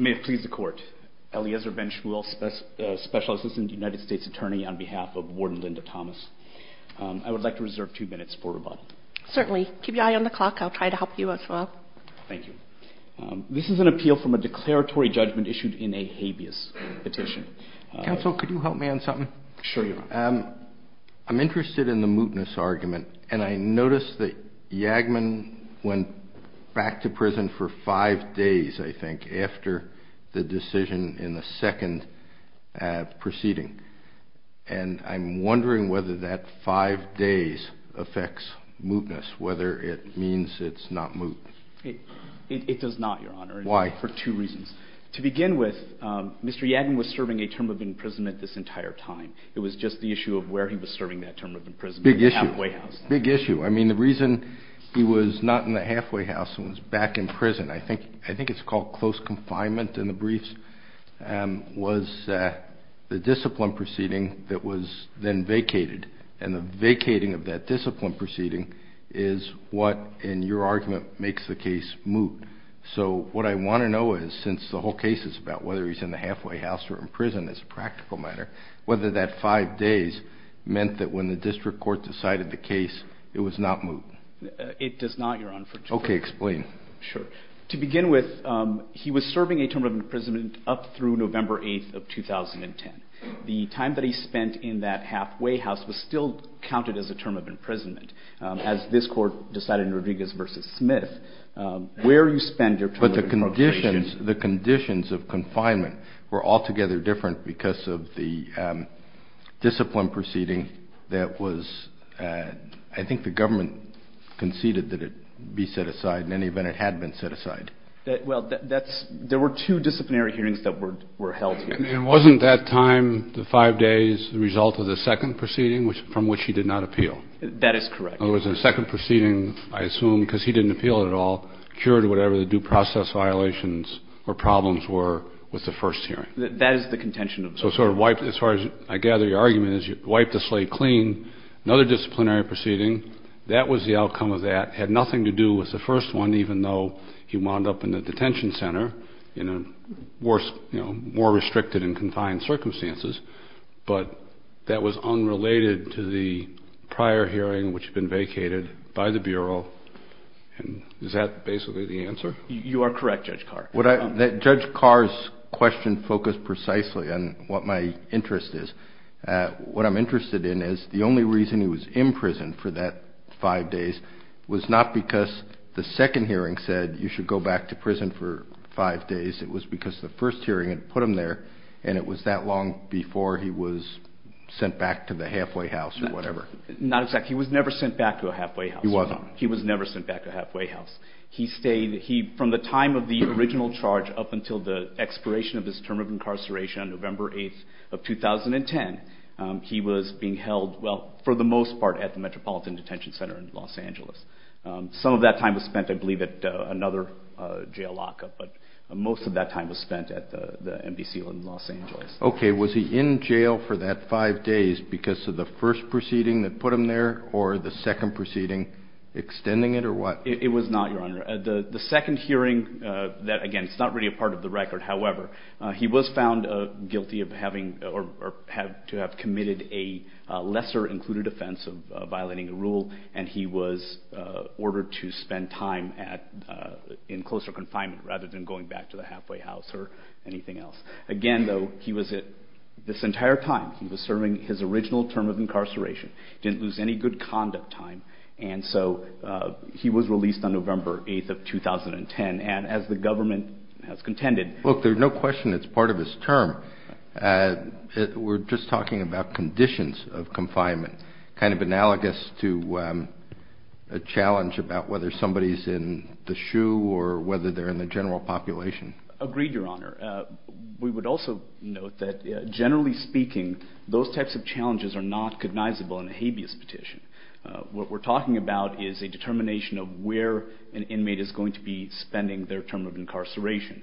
May it please the court, Eliezer Ben-Shmuel, Special Assistant United States Attorney on behalf of Warden Linda Thomas. I would like to reserve two minutes for rebuttal. Certainly. Keep your eye on the clock. I'll try to help you as well. Thank you. This is an appeal from a declaratory judgment issued in a habeas petition. Counsel, could you help me on something? Sure, Your Honor. I'm interested in the mootness argument, and I noticed that Yagman went back to prison for five days, I think, after the decision in the second proceeding. And I'm wondering whether that five days affects mootness, whether it means it's not moot. It does not, Your Honor. Why? For two reasons. To begin with, Mr. Yagman was serving a term of imprisonment this entire time. It was just the issue of where he was serving that term of imprisonment. Big issue. Halfway house. Big issue. I mean, the reason he was not in the halfway house and was back in prison, I think it's called close confinement in the briefs, was the discipline proceeding that was then vacated. And the vacating of that discipline proceeding is what, in your argument, makes the case moot. So what I want to know is, since the whole case is about whether he's in the halfway house or in prison as a practical matter, whether that five days meant that when the district court decided the case, it was not moot. It does not, Your Honor. Okay, explain. Sure. To begin with, he was serving a term of imprisonment up through November 8th of 2010. The time that he spent in that halfway house was still counted as a term of imprisonment, as this court decided in Rodriguez v. Smith. But the conditions of confinement were altogether different because of the discipline proceeding that was, I think the government conceded that it be set aside. In any event, it had been set aside. Well, there were two disciplinary hearings that were held here. Wasn't that time, the five days, the result of the second proceeding from which he did not appeal? That is correct. In other words, the second proceeding, I assume, because he didn't appeal it at all, cured whatever the due process violations or problems were with the first hearing. That is the contention of the court. So sort of wiped, as far as I gather your argument is, you wiped the slate clean. Another disciplinary proceeding, that was the outcome of that. It had nothing to do with the first one, even though he wound up in the detention center in a worse, you know, more restricted and Is that basically the answer? You are correct, Judge Carr. Judge Carr's question focused precisely on what my interest is. What I'm interested in is the only reason he was in prison for that five days was not because the second hearing said you should go back to prison for five days. It was because the first hearing had put him there, and it was that long before he was sent back to the halfway house or whatever. Not exactly. He was never sent back to a halfway house. He wasn't. He was never sent back to a halfway house. He stayed. From the time of the original charge up until the expiration of his term of incarceration on November 8th of 2010, he was being held, well, for the most part, at the Metropolitan Detention Center in Los Angeles. Some of that time was spent, I believe, at another jail lockup, but most of that time was spent at the NBC in Los Angeles. Okay. Was he in jail for that five days because of the first proceeding that put him there or the second proceeding? Extending it or what? It was not, Your Honor. The second hearing, again, it's not really a part of the record. However, he was found guilty of having or to have committed a lesser included offense of violating a rule, and he was ordered to spend time in closer confinement rather than going back to the halfway house or anything else. Again, though, he was at this entire time, he was serving his original term of incarceration, didn't lose any good conduct time, and so he was released on November 8th of 2010, and as the government has contended- Look, there's no question it's part of his term. We're just talking about conditions of confinement, kind of analogous to a challenge about whether somebody's in the shoe or whether they're in the general population. Agreed, Your Honor. We would also note that generally speaking, those types of challenges are not cognizable in a habeas petition. What we're talking about is a determination of where an inmate is going to be spending their term of incarceration.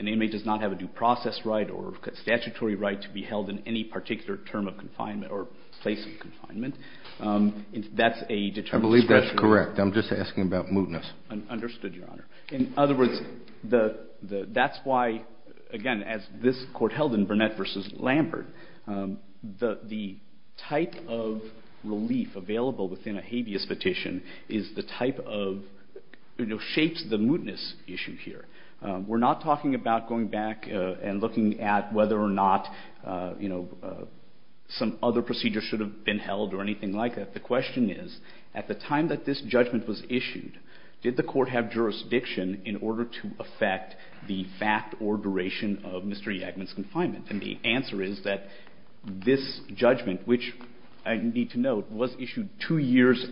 An inmate does not have a due process right or statutory right to be held in any particular term of confinement or place of confinement. That's a determination- I believe that's correct. I'm just asking about mootness. Understood, Your Honor. In other words, that's why, again, as this Court held in Burnett v. Lambert, the type of relief available within a habeas petition is the type of- shapes the mootness issue here. We're not talking about going back and looking at whether or not some other procedure should have been held or anything like that. The question is, at the time that this judgment was issued, did the Court have jurisdiction in order to affect the fact or duration of Mr. Yagman's confinement? And the answer is that this judgment, which I need to note, was issued two years-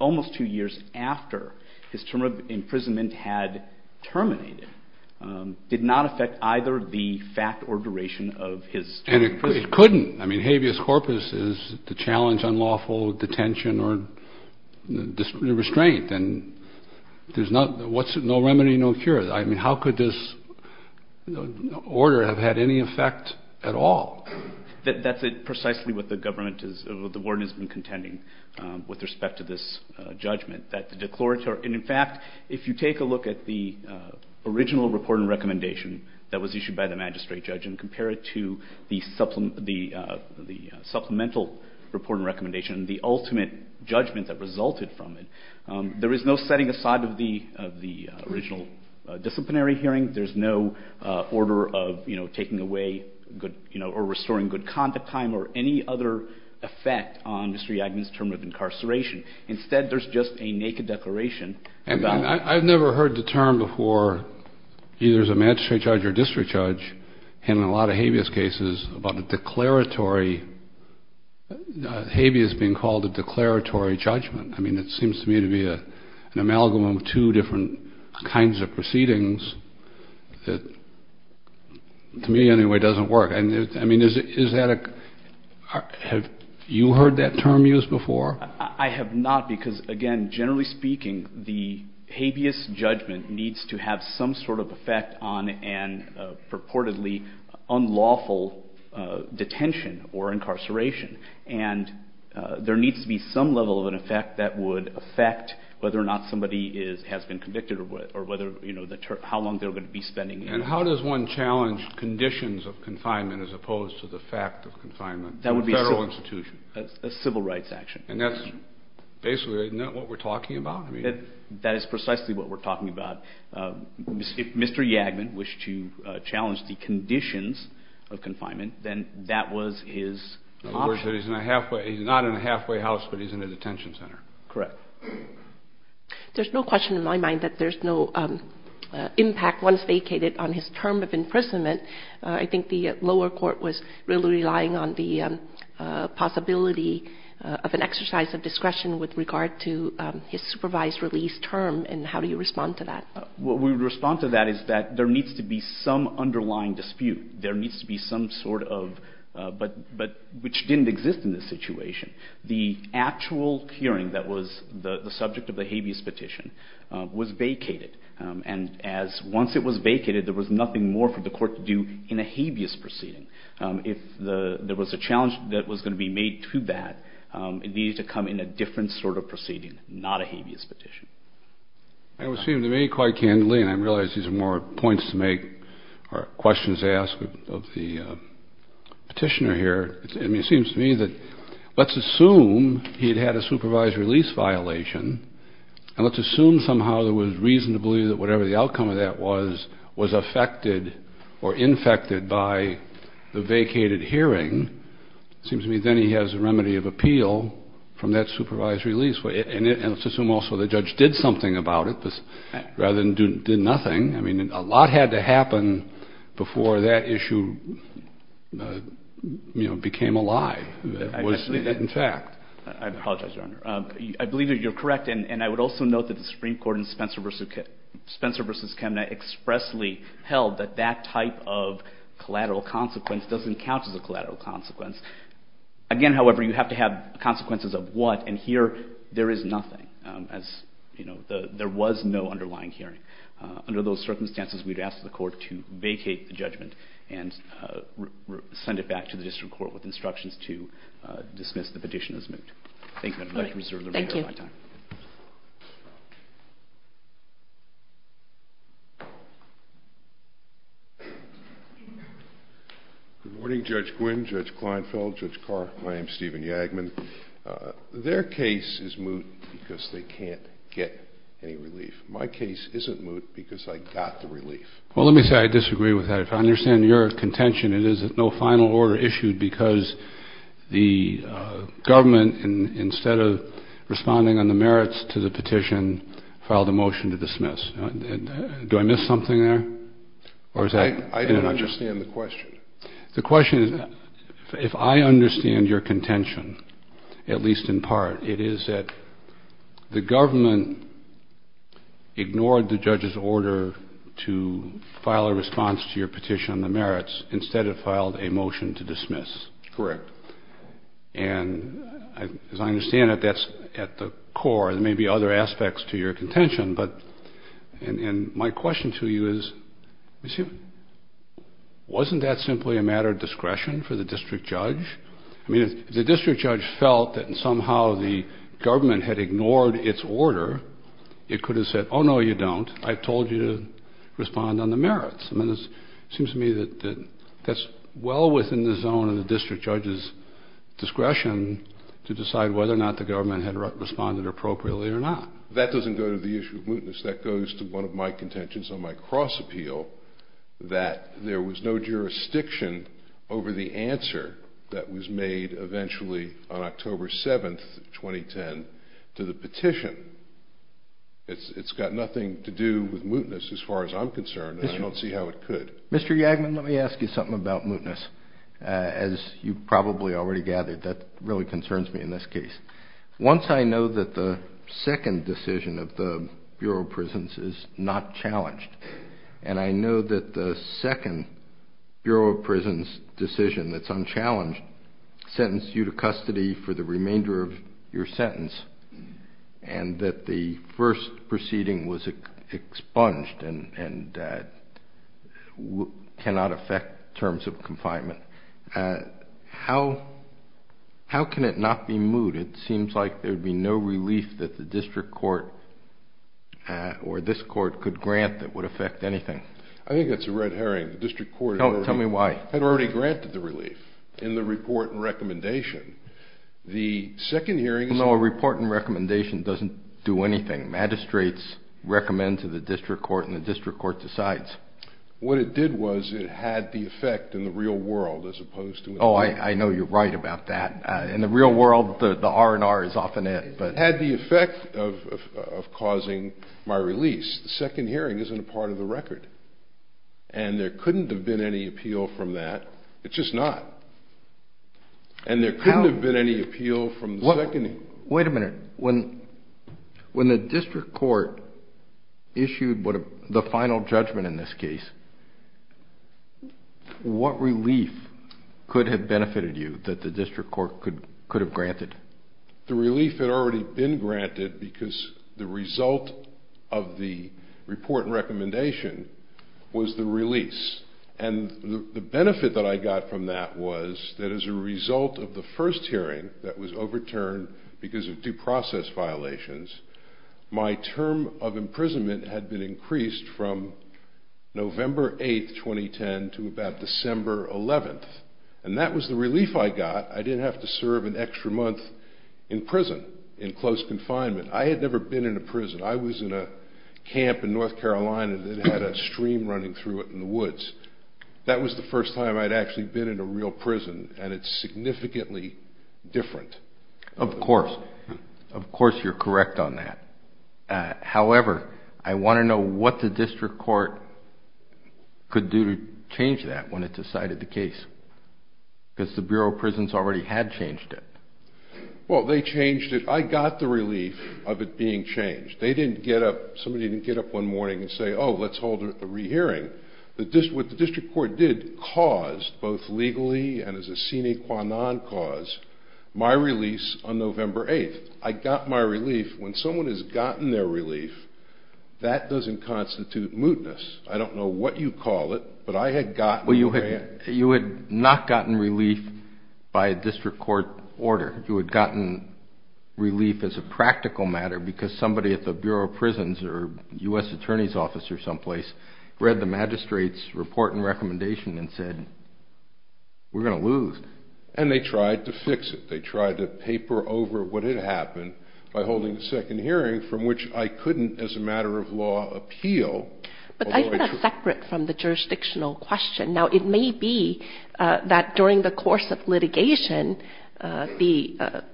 almost two years after his term of imprisonment had terminated, did not affect either the fact or duration of his term of imprisonment. And it couldn't. I mean, habeas corpus is the challenge on lawful detention or restraint. And there's no remedy, no cure. I mean, how could this order have had any effect at all? That's precisely what the government is- the warden has been contending with respect to this judgment, that the declaratory- the supplemental report and recommendation, the ultimate judgment that resulted from it. There is no setting aside of the original disciplinary hearing. There's no order of, you know, taking away good- you know, or restoring good conduct time or any other effect on Mr. Yagman's term of incarceration. Instead, there's just a naked declaration about- a declaratory- habeas being called a declaratory judgment. I mean, it seems to me to be an amalgam of two different kinds of proceedings that, to me anyway, doesn't work. I mean, is that a- have you heard that term used before? I have not because, again, generally speaking, the habeas judgment needs to have some sort of effect on a purportedly unlawful detention or incarceration. And there needs to be some level of an effect that would affect whether or not somebody is- has been convicted or whether- you know, how long they're going to be spending in- And how does one challenge conditions of confinement as opposed to the fact of confinement in a federal institution? A civil rights action. And that's basically- isn't that what we're talking about? That is precisely what we're talking about. If Mr. Yagman wished to challenge the conditions of confinement, then that was his option. In other words, he's in a halfway- he's not in a halfway house, but he's in a detention center. Correct. There's no question in my mind that there's no impact once vacated on his term of imprisonment. I think the lower court was really relying on the possibility of an exercise of discretion with regard to his supervised release term. And how do you respond to that? What we would respond to that is that there needs to be some underlying dispute. There needs to be some sort of- but which didn't exist in this situation. The actual hearing that was the subject of the habeas petition was vacated. And as- once it was vacated, there was nothing more for the court to do in a habeas proceeding. If there was a challenge that was going to be made to that, it needed to come in a different sort of proceeding, not a habeas petition. That would seem to me quite candidly, and I realize these are more points to make or questions to ask of the petitioner here. I mean, it seems to me that let's assume he had had a supervised release violation. And let's assume somehow there was reason to believe that whatever the outcome of that was, was affected or infected by the vacated hearing. It seems to me then he has a remedy of appeal from that supervised release. And let's assume also the judge did something about it, rather than did nothing. I mean, a lot had to happen before that issue, you know, became a lie that was in fact. I apologize, Your Honor. I believe that you're correct. And I would also note that the Supreme Court in Spencer v. Chemnitz expressly held that that type of collateral consequence doesn't count as a collateral consequence. Again, however, you have to have consequences of what? And here there is nothing as, you know, there was no underlying hearing. Under those circumstances, we'd ask the court to vacate the judgment and send it back to the district court with instructions to dismiss the petition as moot. Thank you. I'd like to reserve the remainder of my time. Thank you. Good morning, Judge Quinn, Judge Kleinfeld, Judge Carr. My name is Stephen Yagman. Their case is moot because they can't get any relief. My case isn't moot because I got the relief. Well, let me say I disagree with that. If I understand your contention, it is that no final order issued because the government, instead of responding on the merits to the petition, filed a motion to dismiss. Do I miss something there? I don't understand the question. The question is, if I understand your contention, at least in part, it is that the government ignored the judge's order to file a response to your petition on the merits, instead it filed a motion to dismiss. Correct. And as I understand it, that's at the core. There may be other aspects to your contention, but my question to you is, wasn't that simply a matter of discretion for the district judge? I mean, if the district judge felt that somehow the government had ignored its order, it could have said, oh, no, you don't. I've told you to respond on the merits. I mean, it seems to me that that's well within the zone of the district judge's discretion to decide whether or not the government had responded appropriately or not. That doesn't go to the issue of mootness. That goes to one of my contentions on my cross-appeal, that there was no jurisdiction over the answer that was made eventually on October 7, 2010, to the petition. It's got nothing to do with mootness as far as I'm concerned, and I don't see how it could. Mr. Yagman, let me ask you something about mootness. As you probably already gathered, that really concerns me in this case. Once I know that the second decision of the Bureau of Prisons is not challenged, and I know that the second Bureau of Prisons decision that's unchallenged sentenced you to custody for the remainder of your sentence, and that the first proceeding was expunged and cannot affect terms of confinement, how can it not be moot? It seems like there would be no relief that the district court or this court could grant that would affect anything. I think that's a red herring. The district court had already granted the relief in the report and recommendation. No, a report and recommendation doesn't do anything. Magistrates recommend to the district court, and the district court decides. What it did was it had the effect in the real world as opposed to... Oh, I know you're right about that. In the real world, the R&R is often it. It had the effect of causing my release. The second hearing isn't a part of the record. And there couldn't have been any appeal from that. It's just not. And there couldn't have been any appeal from the second hearing. Wait a minute. When the district court issued the final judgment in this case, what relief could have benefited you that the district court could have granted? The relief had already been granted because the result of the report and recommendation was the release. And the benefit that I got from that was that as a result of the first hearing that was overturned because of due process violations, my term of imprisonment had been increased from November 8, 2010, to about December 11. And that was the relief I got. I didn't have to serve an extra month in prison, in close confinement. I had never been in a prison. I was in a camp in North Carolina that had a stream running through it in the woods. That was the first time I'd actually been in a real prison, and it's significantly different. Of course. Of course you're correct on that. However, I want to know what the district court could do to change that when it decided the case. Because the Bureau of Prisons already had changed it. Well, they changed it. I got the relief of it being changed. They didn't get up, somebody didn't get up one morning and say, oh, let's hold a rehearing. What the district court did caused, both legally and as a sine qua non cause, my release on November 8. I got my relief. When someone has gotten their relief, that doesn't constitute mootness. I don't know what you call it, but I had gotten it. Well, you had not gotten relief by a district court order. You had gotten relief as a practical matter because somebody at the Bureau of Prisons or U.S. Attorney's Office or someplace read the magistrate's report and recommendation and said, we're going to lose. And they tried to fix it. They tried to paper over what had happened by holding a second hearing from which I couldn't, as a matter of law, appeal. But that's separate from the jurisdictional question. Now, it may be that during the course of litigation,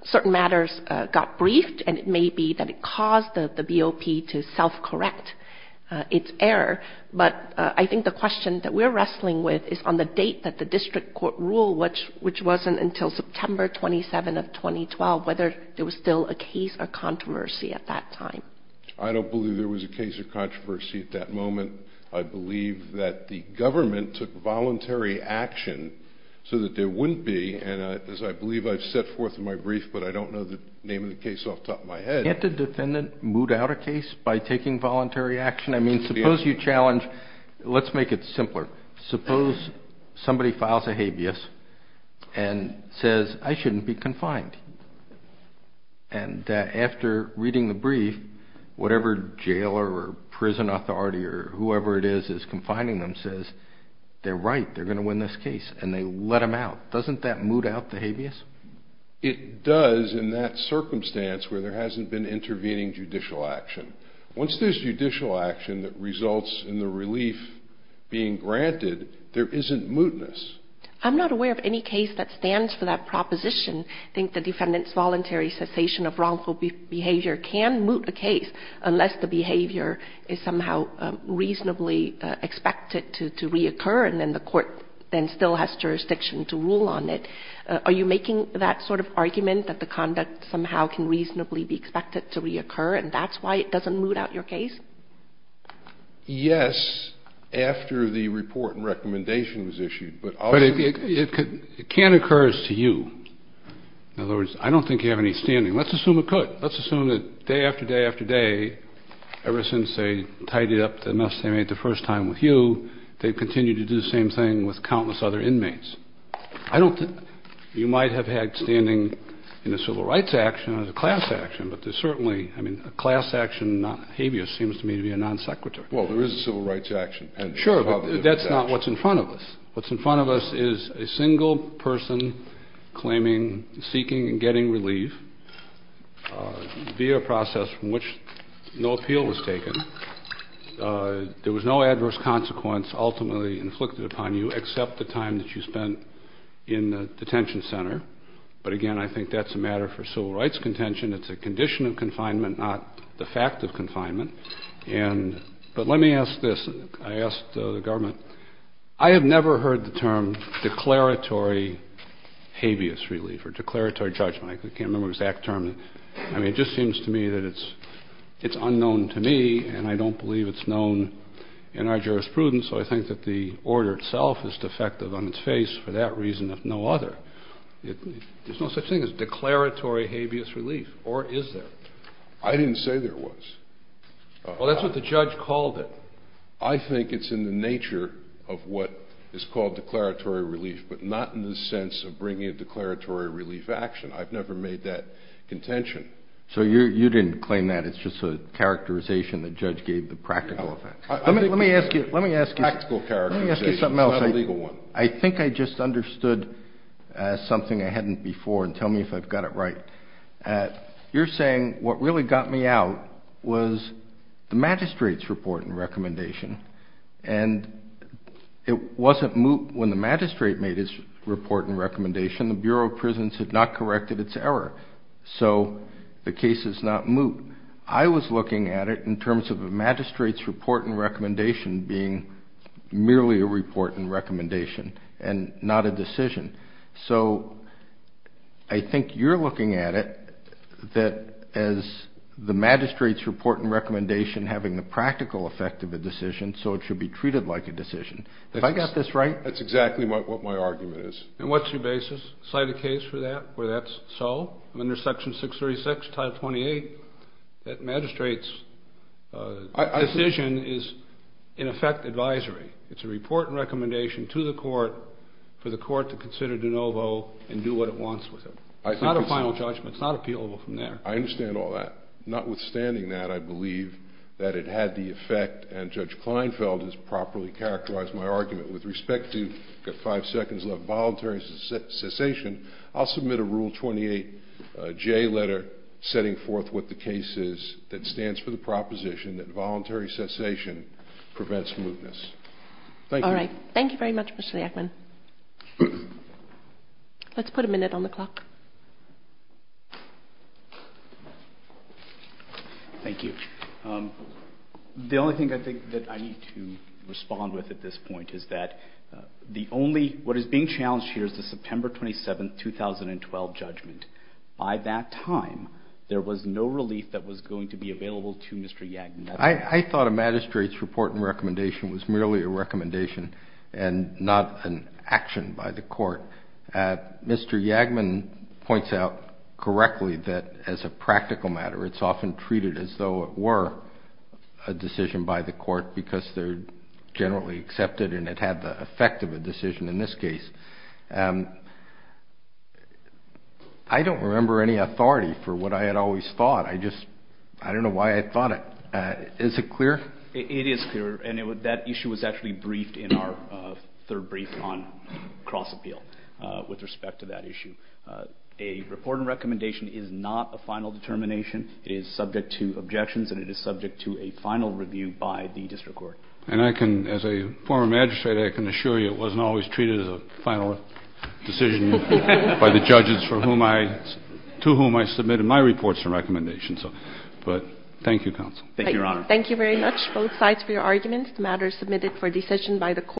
certain matters got briefed, and it may be that it caused the BOP to self-correct its error. But I think the question that we're wrestling with is on the date that the district court ruled, which wasn't until September 27 of 2012, whether there was still a case or controversy at that time. I don't believe there was a case or controversy at that moment. I believe that the government took voluntary action so that there wouldn't be. And as I believe I've set forth in my brief, but I don't know the name of the case off the top of my head. Can't a defendant moot out a case by taking voluntary action? I mean, suppose you challenge. Let's make it simpler. Suppose somebody files a habeas and says, I shouldn't be confined. And after reading the brief, whatever jail or prison authority or whoever it is is confining them says, they're right, they're going to win this case, and they let them out. Doesn't that moot out the habeas? It does in that circumstance where there hasn't been intervening judicial action. Once there's judicial action that results in the relief being granted, there isn't mootness. I'm not aware of any case that stands for that proposition. I think the defendant's voluntary cessation of wrongful behavior can moot a case unless the behavior is somehow reasonably expected to reoccur and then the court then still has jurisdiction to rule on it. Are you making that sort of argument that the conduct somehow can reasonably be expected to reoccur and that's why it doesn't moot out your case? But it can occur as to you. In other words, I don't think you have any standing. Let's assume it could. Let's assume that day after day after day, ever since they tidied up the mess they made the first time with you, they've continued to do the same thing with countless other inmates. You might have had standing in a civil rights action or a class action, but there's certainly, I mean, a class action habeas seems to me to be a non sequitur. Well, there is a civil rights action. Sure, but that's not what's in front of us. What's in front of us is a single person claiming, seeking and getting relief via a process from which no appeal was taken. There was no adverse consequence ultimately inflicted upon you except the time that you spent in the detention center. But again, I think that's a matter for civil rights contention. It's a condition of confinement, not the fact of confinement. But let me ask this. I asked the government. I have never heard the term declaratory habeas relief or declaratory judgment. I can't remember the exact term. I mean, it just seems to me that it's unknown to me, and I don't believe it's known in our jurisprudence, so I think that the order itself is defective on its face for that reason if no other. There's no such thing as declaratory habeas relief, or is there? I didn't say there was. Well, that's what the judge called it. I think it's in the nature of what is called declaratory relief, but not in the sense of bringing a declaratory relief action. I've never made that contention. So you didn't claim that. It's just a characterization the judge gave the practical effect. Let me ask you something else. It's not a legal one. I think I just understood something I hadn't before, and tell me if I've got it right. You're saying what really got me out was the magistrate's report and recommendation, and it wasn't moot when the magistrate made his report and recommendation. The Bureau of Prisons had not corrected its error, so the case is not moot. I was looking at it in terms of the magistrate's report and recommendation being merely a report and recommendation and not a decision. So I think you're looking at it that as the magistrate's report and recommendation having the practical effect of a decision, so it should be treated like a decision. Have I got this right? That's exactly what my argument is. And what's your basis? Cite a case for that where that's so? Under Section 636, Title 28, that magistrate's decision is, in effect, advisory. It's a report and recommendation to the court for the court to consider de novo and do what it wants with it. It's not a final judgment. It's not appealable from there. I understand all that. Notwithstanding that, I believe that it had the effect, and Judge Kleinfeld has properly characterized my argument. With respect to, I've got five seconds left, voluntary cessation, I'll submit a Rule 28J letter setting forth what the case is that stands for the proposition that voluntary cessation prevents mootness. Thank you. All right. Thank you very much, Mr. Yakman. Let's put a minute on the clock. Thank you. The only thing I think that I need to respond with at this point is that the only, what is being challenged here is the September 27, 2012 judgment. By that time, there was no relief that was going to be available to Mr. Yakman. I thought a magistrate's report and recommendation was merely a recommendation and not an action by the court. Mr. Yakman points out correctly that, as a practical matter, it's often treated as though it were a decision by the court because they're generally accepted and it had the effect of a decision in this case. I don't remember any authority for what I had always thought. I just, I don't know why I thought it. Is it clear? It is clear. And that issue was actually briefed in our third brief on cross-appeal with respect to that issue. A report and recommendation is not a final determination. It is subject to objections and it is subject to a final review by the district court. And I can, as a former magistrate, I can assure you it wasn't always treated as a final decision by the judges for whom I, to whom I submitted my reports and recommendations. But thank you, counsel. Thank you, Your Honor. Thank you very much, both sides, for your arguments. The matter is submitted for decision by the court.